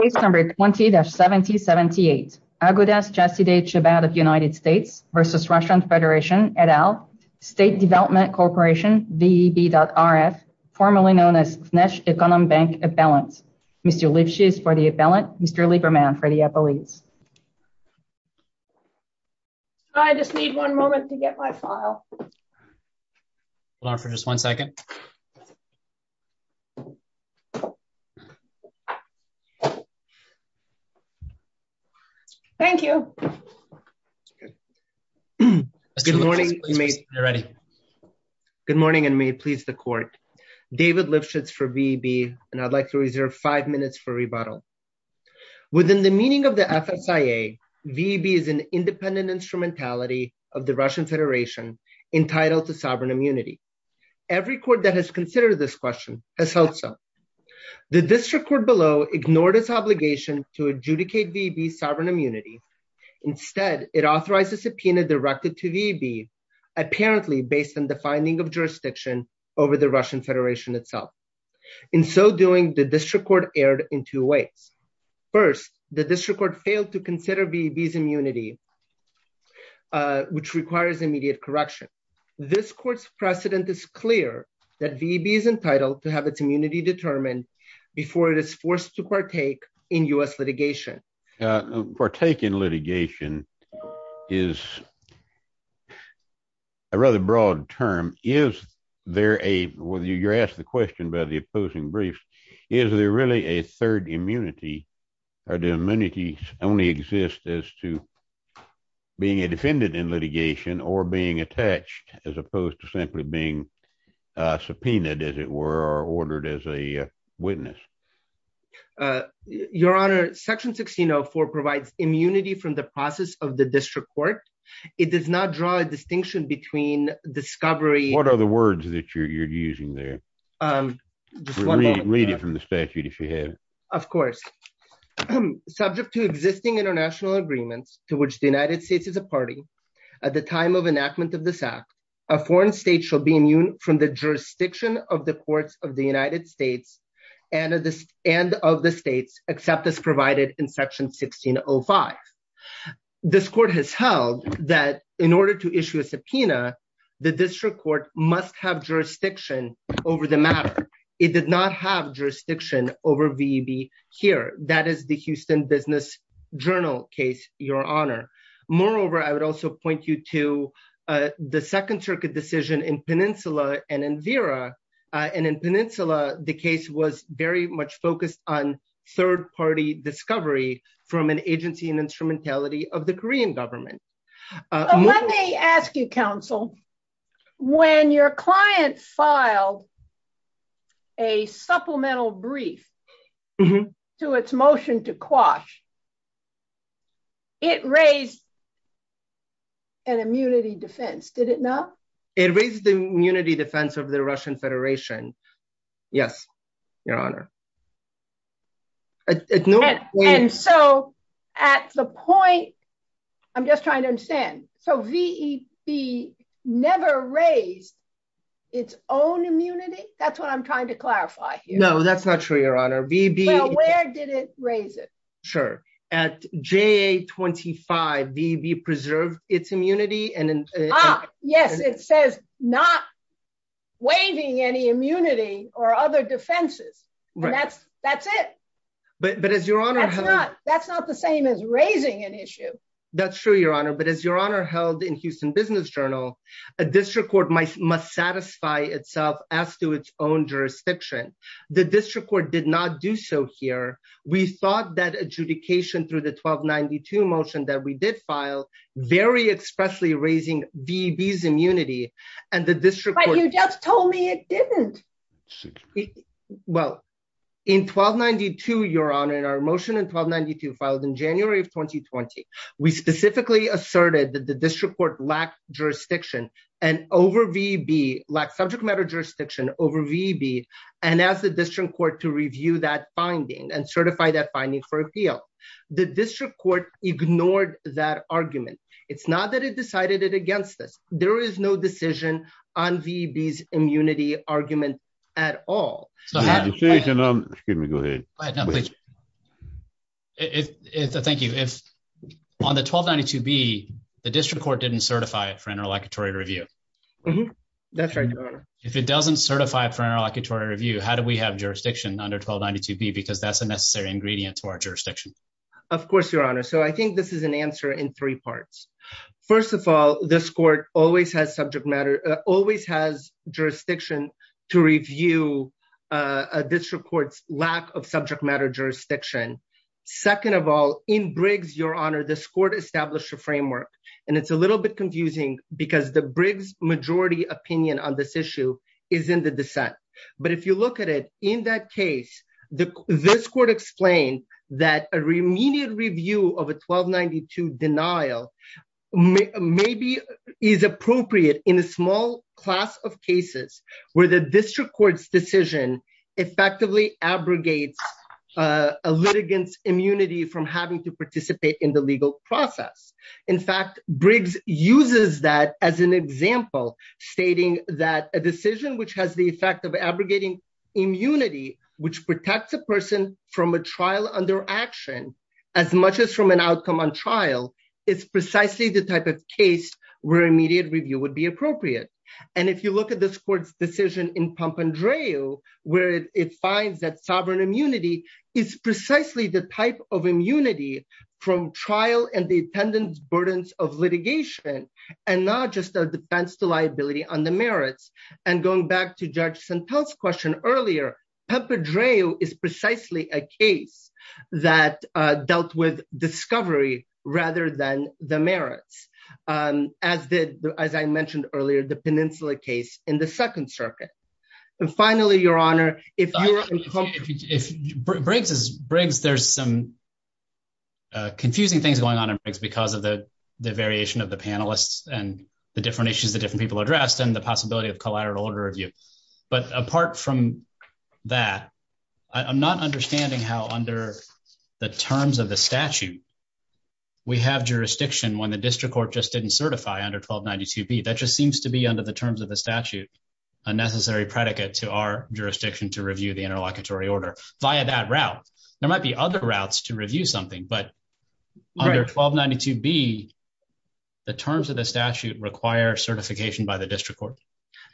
Case number 20-7078. Agudas Chasidei Chabad of United States versus Russian Federation et al. State Development Corporation, VEB.RF, formerly known as Gneshe Ekonom Bank Appellant. Mr. Lipschitz for the appellant, Mr. Lieberman for the appellees. I just need one moment to get my file. Hold on for just one second. Yeah. Thank you. Mr. Lipschitz, please be ready. Good morning, and may it please the court. David Lipschitz for VEB, and I'd like to reserve five minutes for rebuttal. Within the meaning of the FSIA, VEB is an independent instrumentality of the Russian Federation entitled to sovereign immunity. Every court that has considered this question has held so. The district court below ignored its obligation to adjudicate VEB sovereign immunity. Instead, it authorized a subpoena directed to VEB, apparently based on the finding of jurisdiction over the Russian Federation itself. In so doing, the district court erred in two ways. First, the district court failed to consider VEB's immunity, which requires immediate correction. This court's precedent is clear that VEB is entitled to have its immunity determined before it is forced to partake in U.S. litigation. Partake in litigation is a rather broad term. Is there a, you're asked the question by the opposing brief, is there really a third immunity, or do immunities only exist as to being a defendant in litigation or being attached as opposed to simply being subpoenaed, as it were, or ordered as a witness? Your Honor, section 16.04 provides immunity from the process of the district court. It does not draw a distinction between discovery- What are the words that you're using there? Read it from the statute if you have it. Of course. Subject to existing international agreements to which the United States is a party at the time of enactment of this act, a foreign state shall be immune from the jurisdiction of the courts of the United States and of the states except as provided in section 16.05. This court has held that in order to issue a subpoena, the district court must have jurisdiction over the matter. It did not have jurisdiction over VEB here. That is the Houston Business Journal case, Your Honor. Moreover, I would also point you to the Second Circuit decision in Peninsula and in Vera. And in Peninsula, the case was very much focused on third-party discovery from an agency and instrumentality of the Korean government. Let me ask you, counsel, when your client filed a supplemental brief to its motion to quash, it raised an immunity defense, did it not? It raised the immunity defense of the Russian Federation. Yes, Your Honor. And so at the point, I'm just trying to understand. So VEB never raised its own immunity? That's what I'm trying to clarify here. No, that's not true, Your Honor. VEB- Well, where did it raise it? Sure, at JA-25, VEB preserved its immunity and- Yes, it says not waiving any immunity or other defenses. And that's it. But as Your Honor- That's not the same as raising an issue. That's true, Your Honor. But as Your Honor held in Houston Business Journal, a district court must satisfy itself as to its own jurisdiction. The district court did not do so here. We thought that adjudication through the 1292 motion that we did file very expressly raising VEB's immunity and the district court- But you just told me it didn't. Well, in 1292, Your Honor, our motion in 1292 filed in January of 2020, we specifically asserted that the district court lacked jurisdiction and over VEB, lacked subject matter jurisdiction over VEB and asked the district court to review that finding. And certify that finding for appeal. The district court ignored that argument. It's not that it decided it against us. There is no decision on VEB's immunity argument at all. So that- Excuse me, go ahead. Go ahead, no, please. If, thank you, if on the 1292B, the district court didn't certify it for interlocutory review. That's right, Your Honor. If it doesn't certify it for interlocutory review, how do we have jurisdiction under 1292B? Because that's a necessary ingredient to our jurisdiction. Of course, Your Honor. So I think this is an answer in three parts. First of all, this court always has subject matter, always has jurisdiction to review a district court's lack of subject matter jurisdiction. Second of all, in Briggs, Your Honor, this court established a framework. And it's a little bit confusing because the Briggs majority opinion on this issue is in the dissent. But if you look at it, in that case, this court explained that a remediate review of a 1292 denial maybe is appropriate in a small class of cases where the district court's decision effectively abrogates a litigant's immunity from having to participate in the legal process. In fact, Briggs uses that as an example, stating that a decision which has the effect of abrogating immunity, which protects a person from a trial under action, as much as from an outcome on trial, is precisely the type of case where immediate review would be appropriate. And if you look at this court's decision in Pompandreou, where it finds that sovereign immunity is precisely the type of immunity from trial and the attendant's burdens of litigation, and not just a defense to liability on the merits. And going back to Judge Santel's question earlier, Pompandreou is precisely a case that dealt with discovery rather than the merits, as I mentioned earlier, the Peninsula case in the Second Circuit. And finally, Your Honor, if you were in- If Briggs, there's some confusing things going on in Briggs because of the variation of the panelists and the different issues that different people addressed and the possibility of collateral order review. But apart from that, I'm not understanding how under the terms of the statute, we have jurisdiction when the district court just didn't certify under 1292B. That just seems to be under the terms of the statute, a necessary predicate to our jurisdiction to review the interlocutory order via that route. There might be other routes to review something, but under 1292B, the terms of the statute require certification by the district court.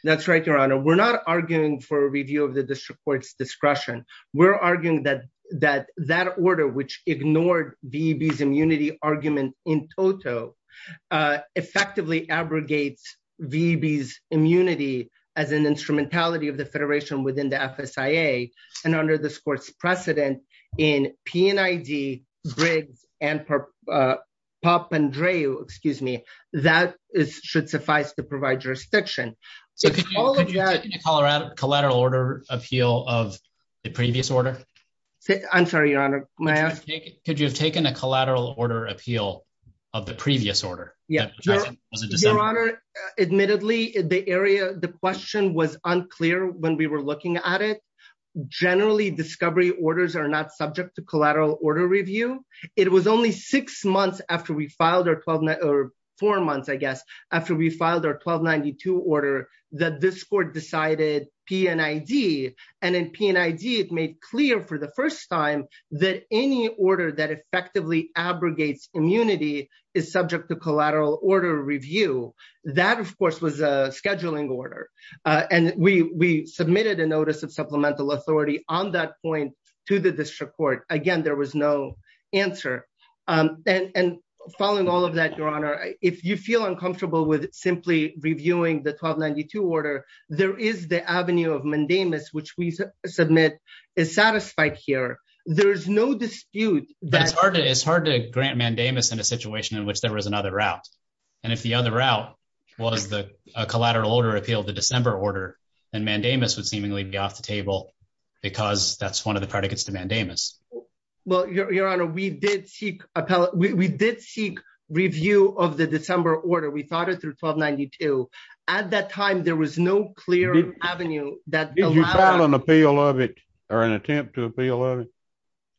That's right, Your Honor. We're not arguing for a review of the district court's discretion. We're arguing that that order, which ignored VEB's immunity argument in toto, effectively abrogates VEB's immunity as an instrumentality of the federation within the FSIA. And under this court's precedent in PNID, Briggs, and Pompandreou, excuse me, that should suffice to provide jurisdiction. So could you have taken a collateral order appeal of the previous order? I'm sorry, Your Honor, may I ask? Could you have taken a collateral order appeal of the previous order? Yeah, Your Honor, admittedly, the area, the question was unclear when we were looking at it. Generally, discovery orders are not subject to collateral order review. It was only six months after we filed or four months, I guess, after we filed our 1292 order that this court decided PNID. And in PNID, it made clear for the first time that any order that effectively abrogates immunity is subject to collateral order review. That, of course, was a scheduling order. And we submitted a notice of supplemental authority on that point to the district court. Again, there was no answer. And following all of that, Your Honor, if you feel uncomfortable with simply reviewing the 1292 order, there is the avenue of mandamus, which we submit is satisfied here. There is no dispute that- It's hard to grant mandamus in a situation in which there was another route. And if the other route was a collateral order appeal of the December order, then mandamus would seemingly be off the table because that's one of the predicates to mandamus. Well, Your Honor, we did seek review of the December order. We thought it through 1292. At that time, there was no clear avenue that allowed- Did you file an appeal of it or an attempt to appeal of it?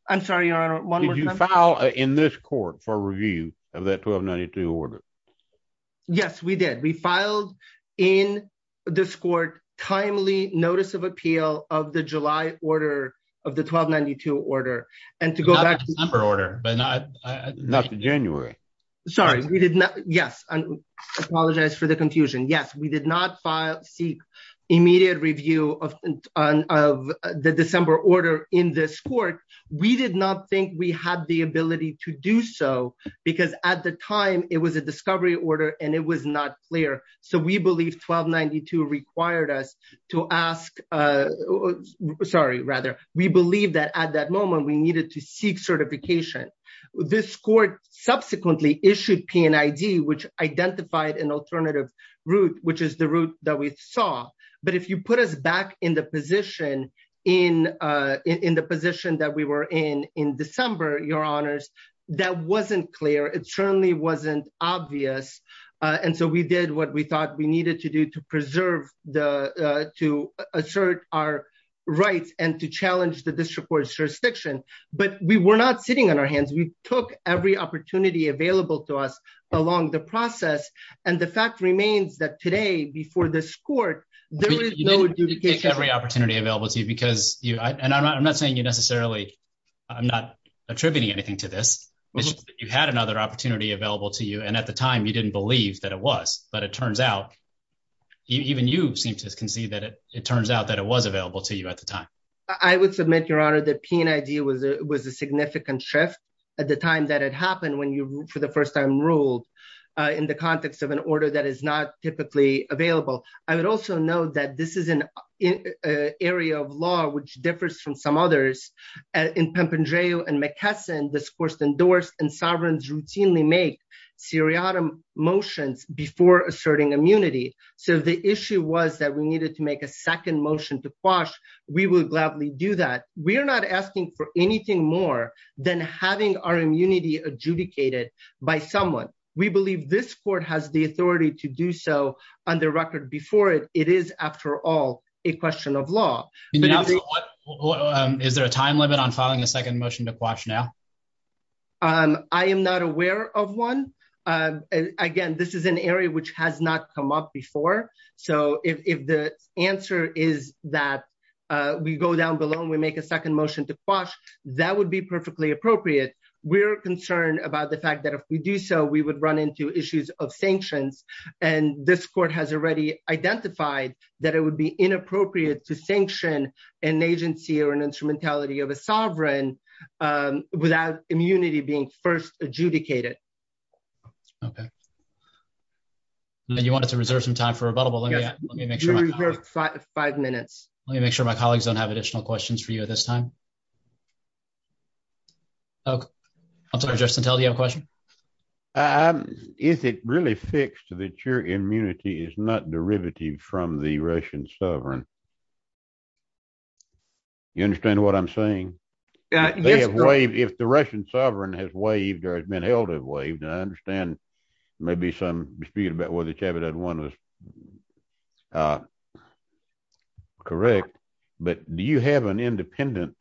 I'm sorry, Your Honor, one more time. Did you file in this court for review of that 1292 order? Yes, we did. We filed in this court timely notice of appeal of the July order, of the 1292 order. And to go back- Not the December order, but not- Not the January. Sorry, we did not- Yes, I apologize for the confusion. Yes, we did not seek immediate review of the December order in this court. We did not think we had the ability to do so because at the time it was a discovery order and it was not clear. So we believe 1292 required us to ask, sorry, rather, we believe that at that moment we needed to seek certification. This court subsequently issued P&ID which identified an alternative route which is the route that we saw. But if you put us back in the position that we were in in December, Your Honors, that wasn't clear. It certainly wasn't obvious. And so we did what we thought we needed to do to preserve the, to assert our rights and to challenge the district court's jurisdiction. But we were not sitting on our hands. We took every opportunity available to us along the process. And the fact remains that today before this court, there was no- You didn't take every opportunity available to you because you, and I'm not saying you necessarily, I'm not attributing anything to this. It's just that you had another opportunity available to you. And at the time you didn't believe that it was, but it turns out, even you seem to concede that it, it turns out that it was available to you at the time. I would submit, Your Honor, that P&ID was a significant shift at the time that it happened when you, for the first time, ruled in the context of an order that is not typically available. I would also note that this is an area of law which differs from some others. In Pampandreou and McKesson, discourse endorsed and sovereigns routinely make seriatim motions before asserting immunity. So if the issue was that we needed to make a second motion to quash, we will gladly do that. We are not asking for anything more than having our immunity adjudicated by someone. We believe this court has the authority to do so on the record before it. It is, after all, a question of law. Is there a time limit on filing a second motion to quash now? I am not aware of one. Again, this is an area which has not come up before. So if the answer is that we go down below and we make a second motion to quash, that would be perfectly appropriate. We're concerned about the fact that if we do so, we would run into issues of sanctions. And this court has already identified that it would be inappropriate to sanction an agency or an instrumentality of a sovereign without immunity being first adjudicated. Okay. And you wanted to reserve some time for rebuttal, but let me make sure- You have five minutes. Let me make sure my colleagues don't have additional questions for you at this time. Okay. I'm sorry, Justin Tell, do you have a question? Is it really fixed that your immunity is not derivative from the Russian sovereign? You understand what I'm saying? They have waived. If the Russian sovereign has waived or has been held to have waived, and I understand maybe some dispute about whether Chabudat won was correct, but do you have an independent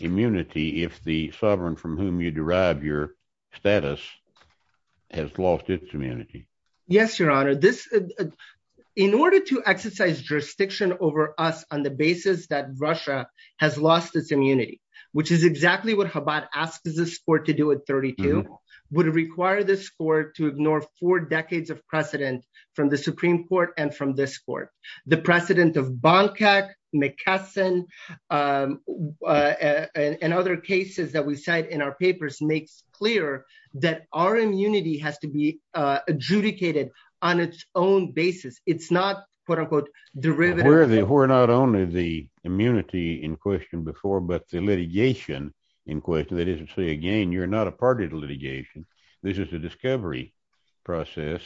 immunity if the sovereign from whom you derive your status has lost its immunity? Yes, Your Honor. In order to exercise jurisdiction over us on the basis that Russia has lost its immunity, which is exactly what Chabudat asked this court to do at 32, would require this court to ignore four decades of precedent from the Supreme Court and from this court. The precedent of Bonkak, Mckesson, and other cases that we cite in our papers makes clear that our immunity has to be adjudicated on its own basis. It's not, quote unquote, derivative- It's not only the immunity in question before, but the litigation in question. That is to say, again, you're not a party to litigation. This is a discovery process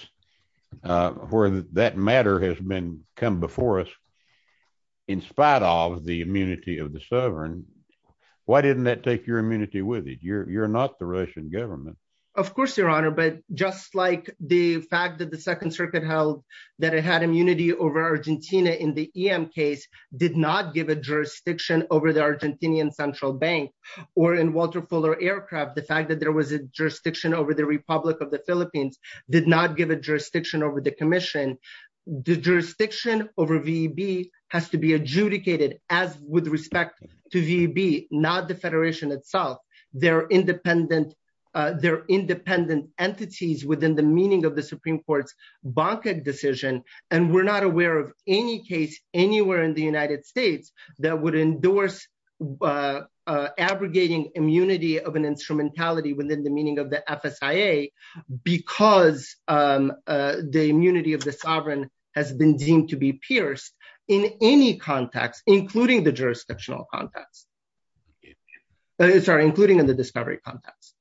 where that matter has come before us in spite of the immunity of the sovereign. Why didn't that take your immunity with it? You're not the Russian government. Of course, Your Honor, but just like the fact that the Second Circuit held that it had immunity over Argentina in the EM case, did not give a jurisdiction over the Argentinian Central Bank, or in Walter Fuller Aircraft, the fact that there was a jurisdiction over the Republic of the Philippines did not give a jurisdiction over the commission, the jurisdiction over VEB has to be adjudicated as with respect to VEB, not the Federation itself. They're independent entities within the meaning of the Supreme Court's Bonkak decision. And we're not aware of any case anywhere in the United States that would endorse abrogating immunity of an instrumentality within the meaning of the FSIA because the immunity of the sovereign has been deemed to be pierced in any context, including the jurisdictional context. Sorry, including in the discovery context.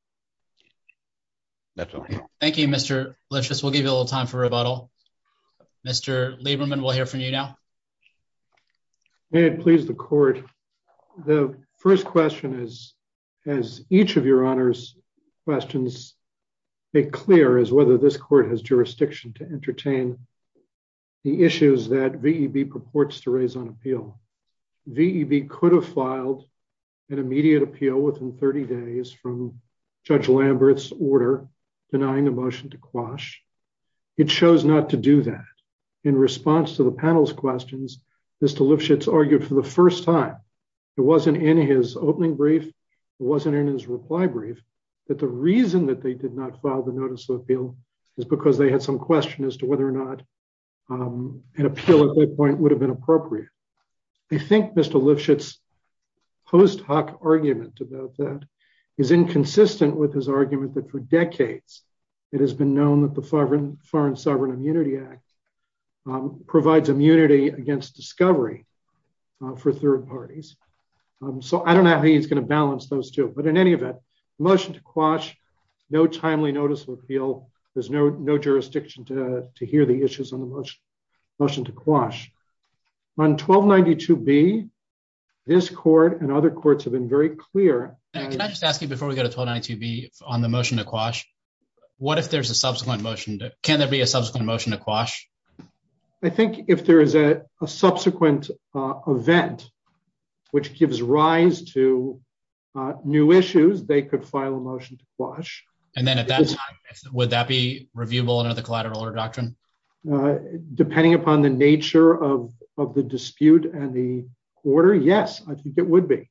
That's all. Thank you, Mr. Lipschitz. We'll give you a little time for rebuttal. Mr. Lieberman, we'll hear from you now. May it please the court. The first question is, as each of your honors questions make clear is whether this court has jurisdiction to entertain the issues that VEB purports to raise on appeal. VEB could have filed an immediate appeal within 30 days from Judge Lambert's order denying the motion to quash. It shows not to do that. In response to the panel's questions, Mr. Lipschitz argued for the first time, it wasn't in his opening brief, it wasn't in his reply brief, that the reason that they did not file the notice of appeal is because they had some question as to whether or not an appeal at that point would have been appropriate. I think Mr. Lipschitz post hoc argument about that is inconsistent with his argument that for decades it has been known that the Foreign Sovereign Immunity Act provides immunity against discovery for third parties. So I don't know how he's gonna balance those two, but in any event, motion to quash, no timely notice of appeal, there's no jurisdiction to hear the issues on the motion to quash. On 1292B, this court and other courts have been very clear. Can I just ask you before we go to 1292B on the motion to quash, what if there's a subsequent motion to, can there be a subsequent motion to quash? I think if there is a subsequent event which gives rise to new issues, they could file a motion to quash. And then at that time, would that be reviewable under the collateral order doctrine? Depending upon the nature of the dispute and the order, yes, I think it would be.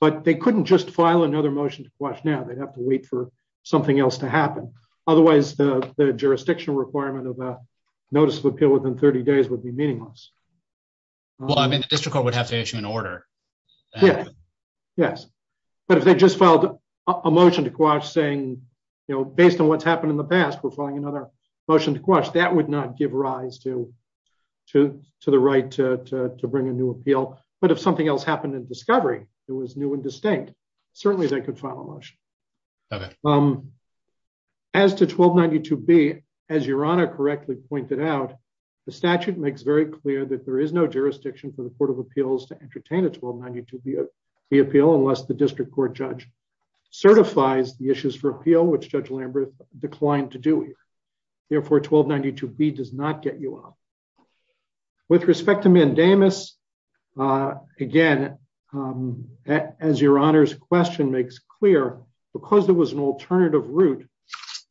But they couldn't just file another motion to quash now, they'd have to wait for something else to happen. Otherwise the jurisdiction requirement of a notice of appeal within 30 days would be meaningless. Well, I mean, the district court would have to issue an order. Yeah, yes. But if they just filed a motion to quash saying, based on what's happened in the past, we're filing another motion to quash, that would not give rise to the right to bring a new appeal. But if something else happened in discovery, it was new and distinct, certainly they could file a motion. As to 1292B, as Your Honor correctly pointed out, the statute makes very clear that there is no jurisdiction for the court of appeals to entertain a 1292B appeal unless the district court judge certifies the issues for appeal, which Judge Lambert declined to do. Therefore 1292B does not get you up. With respect to mandamus, again, as Your Honor's question makes clear, because there was an alternative route,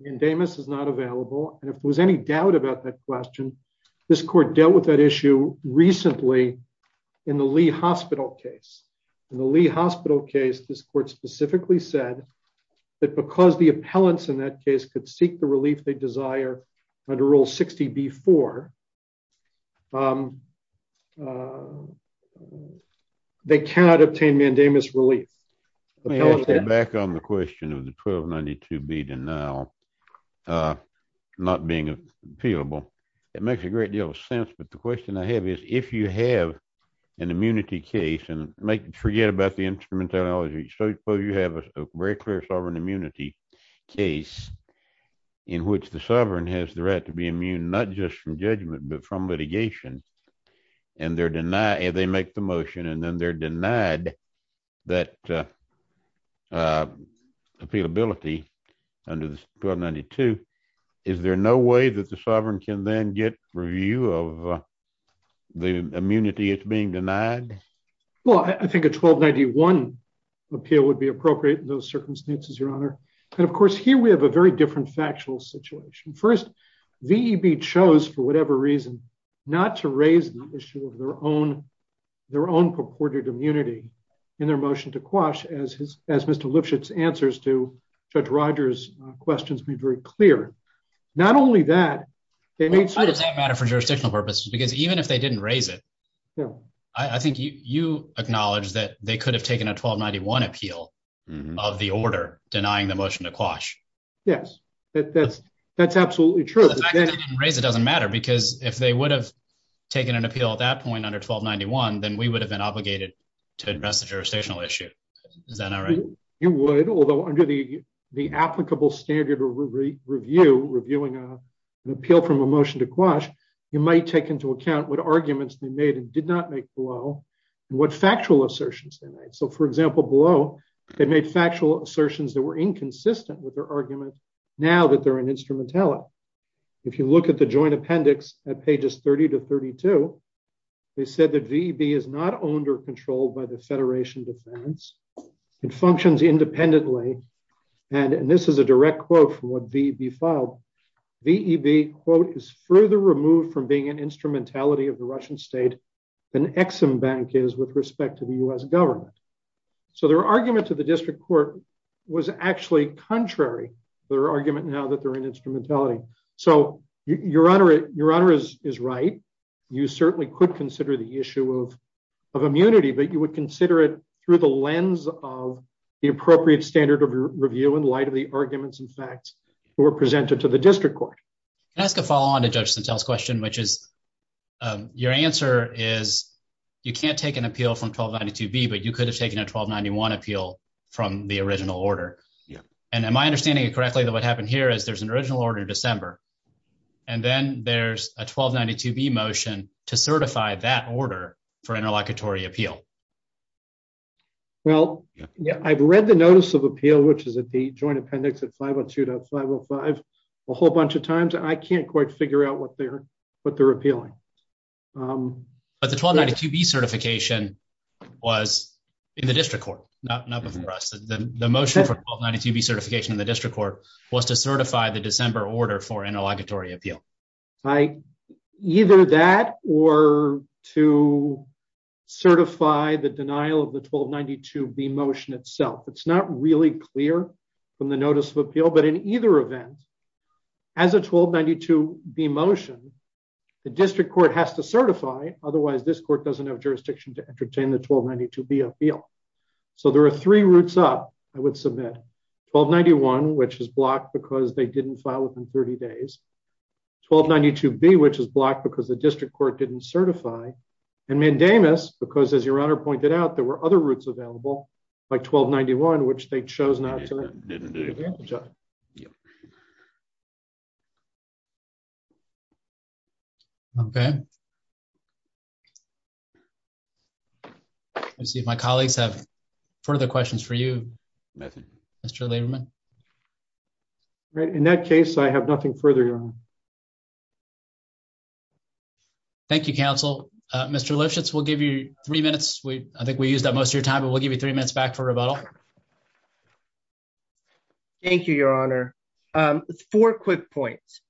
mandamus is not available. And if there was any doubt about that question, this court dealt with that issue recently in the Lee Hospital case. In the Lee Hospital case, this court specifically said that because the appellants in that case could seek the relief they desire under Rule 60B-4, they cannot obtain mandamus relief. The appellant- Back on the question of the 1292B denial not being appealable, it makes a great deal of sense. But the question I have is, if you have an immunity case and forget about the instrumentality, so suppose you have a very clear sovereign immunity case in which the sovereign has the right to be immune, not just from judgment, but from litigation, and they make the motion and then they're denied that appealability under 1292, is there no way that the sovereign can then get review of the immunity that's being denied? Well, I think a 1291 appeal would be appropriate in those circumstances, Your Honor. And of course, here we have a very different factual situation. First, VEB chose, for whatever reason, not to raise the issue of their own purported immunity in their motion to quash, as Mr. Lipschitz's answers to Judge Rogers' questions were very clear. Not only that, they made- Why does that matter for jurisdictional purposes? Because even if they didn't raise it, yeah. I think you acknowledge that they could have taken a 1291 appeal of the order, denying the motion to quash. Yes, that's absolutely true. The fact that they didn't raise it doesn't matter because if they would have taken an appeal at that point under 1291, then we would have been obligated to address the jurisdictional issue. Is that not right? You would, although under the applicable standard of review, reviewing an appeal from a motion to quash, you might take into account what arguments they made and did not make below and what factual assertions they made. So for example, below, they made factual assertions that were inconsistent with their argument now that they're an instrumentality. If you look at the joint appendix at pages 30 to 32, they said that VEB is not owned or controlled by the Federation Defense. It functions independently. And this is a direct quote from what VEB filed. VEB, quote, is further removed from being an instrumentality of the Russian state than Ex-Im Bank is with respect to the US government. So their argument to the district court was actually contrary to their argument now that they're an instrumentality. So your honor is right. You certainly could consider the issue of immunity, but you would consider it through the lens of the appropriate standard of review in light of the arguments and facts who were presented to the district court. Can I ask a follow-on to Judge Santel's question, which is your answer is you can't take an appeal from 1292B, but you could have taken a 1291 appeal from the original order. And am I understanding it correctly that what happened here is there's an original order in December, and then there's a 1292B motion to certify that order for interlocutory appeal? Well, I've read the notice of appeal, which is at the joint appendix at 502.505 a whole bunch of times. I can't quite figure out what they're appealing. But the 1292B certification was in the district court, not before us. The motion for 1292B certification in the district court was to certify the December order for interlocutory appeal. Either that or to certify the denial of the 1292B motion itself. It's not really clear from the notice of appeal, but in either event, as a 1292B motion, the district court has to certify, otherwise this court doesn't have jurisdiction to entertain the 1292B appeal. So there are three routes up I would submit. 1291, which is blocked because they didn't file within 30 days. 1292B, which is blocked because the district court didn't certify. And mandamus, because as your honor pointed out, there were other routes available like 1291, which they chose not to. Okay. Let's see if my colleagues have further questions for you. Nothing. Mr. Lieberman. Right, in that case, I have nothing further. Thank you, counsel. Mr. Lipschitz, we'll give you three minutes. I think we used up most of your time, but we'll give you three minutes back for rebuttal. Thank you, your honor. Four quick points.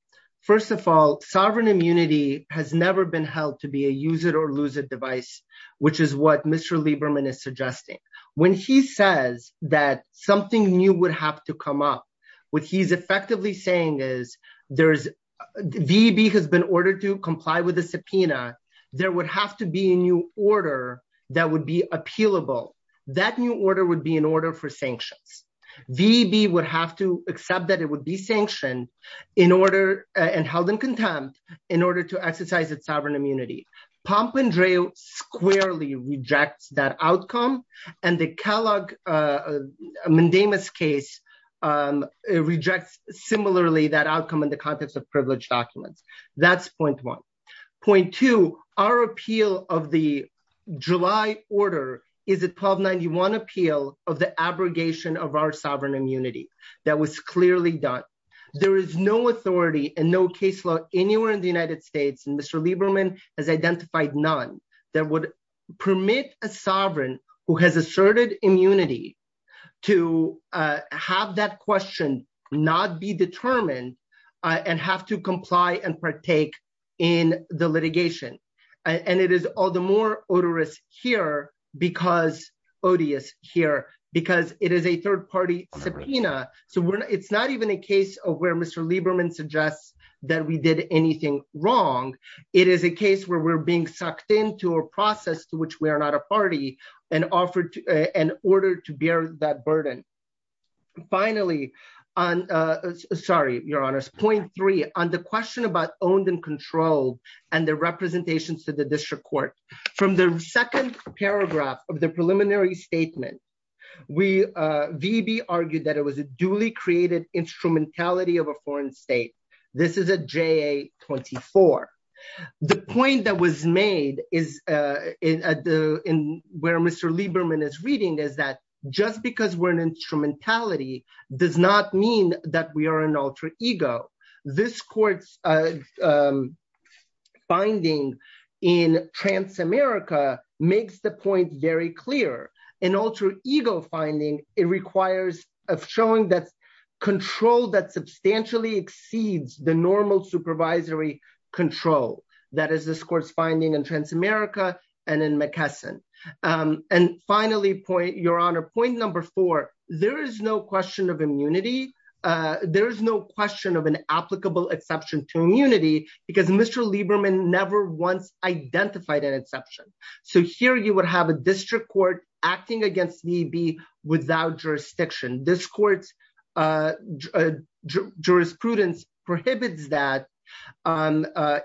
First of all, sovereign immunity has never been held to be a use it or lose it device, which is what Mr. Lieberman is suggesting. When he says that something new would have to come up, what he's effectively saying is, VEB has been ordered to comply with the subpoena. There would have to be a new order that would be appealable. That new order would be in order for sanctions. VEB would have to accept that it would be sanctioned in order and held in contempt in order to exercise its sovereign immunity. Pomp and Drill squarely rejects that outcome. And the Kellogg mandamus case rejects similarly that outcome in the context of privileged documents. That's point one. Point two, our appeal of the July order is a 1291 appeal of the abrogation of our sovereign immunity that was clearly done. There is no authority and no case law anywhere in the United States, and Mr. Lieberman has identified none that would permit a sovereign who has asserted immunity to have that question not be determined and have to comply and partake in the litigation. And it is all the more odorous here because, odious here, because it is a third party subpoena. So it's not even a case of where Mr. Lieberman suggests that we did anything wrong. It is a case where we're being sucked into a process to which we are not a party and ordered to bear that burden. Finally, sorry, your honors, point three on the question about owned and controlled and the representations to the district court. From the second paragraph of the preliminary statement, VB argued that it was a duly created instrumentality of a foreign state. This is a JA-24. The point that was made where Mr. Lieberman is reading is that just because we're an instrumentality does not mean that we are an alter ego. This court's finding in Transamerica makes the point very clear. An alter ego finding, it requires of showing that control that substantially exceeds the normal supervisory control. That is this court's finding in Transamerica and in McKesson. And finally, your honor, point number four, there is no question of immunity. There is no question of an applicable exception to immunity because Mr. Lieberman never once identified an exception. So here you would have a district court acting against VB without jurisdiction. This court's jurisprudence prohibits that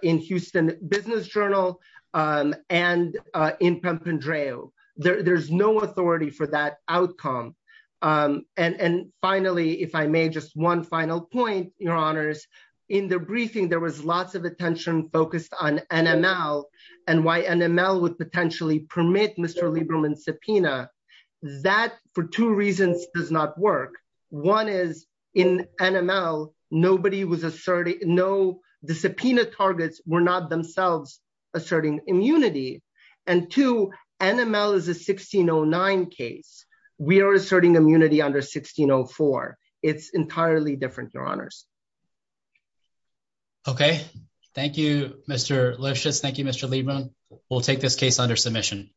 in Houston Business Journal and in Pampandreou. There's no authority for that outcome. And finally, if I may, just one final point, your honors. In the briefing, there was lots of attention focused on NML and why NML would potentially permit Mr. Lieberman's subpoena that for two reasons does not work. One is in NML, the subpoena targets were not themselves asserting immunity. And two, NML is a 1609 case. We are asserting immunity under 1604. It's entirely different, your honors. Okay. Thank you, Mr. Lushas. Thank you, Mr. Lieberman. We'll take this case under submission.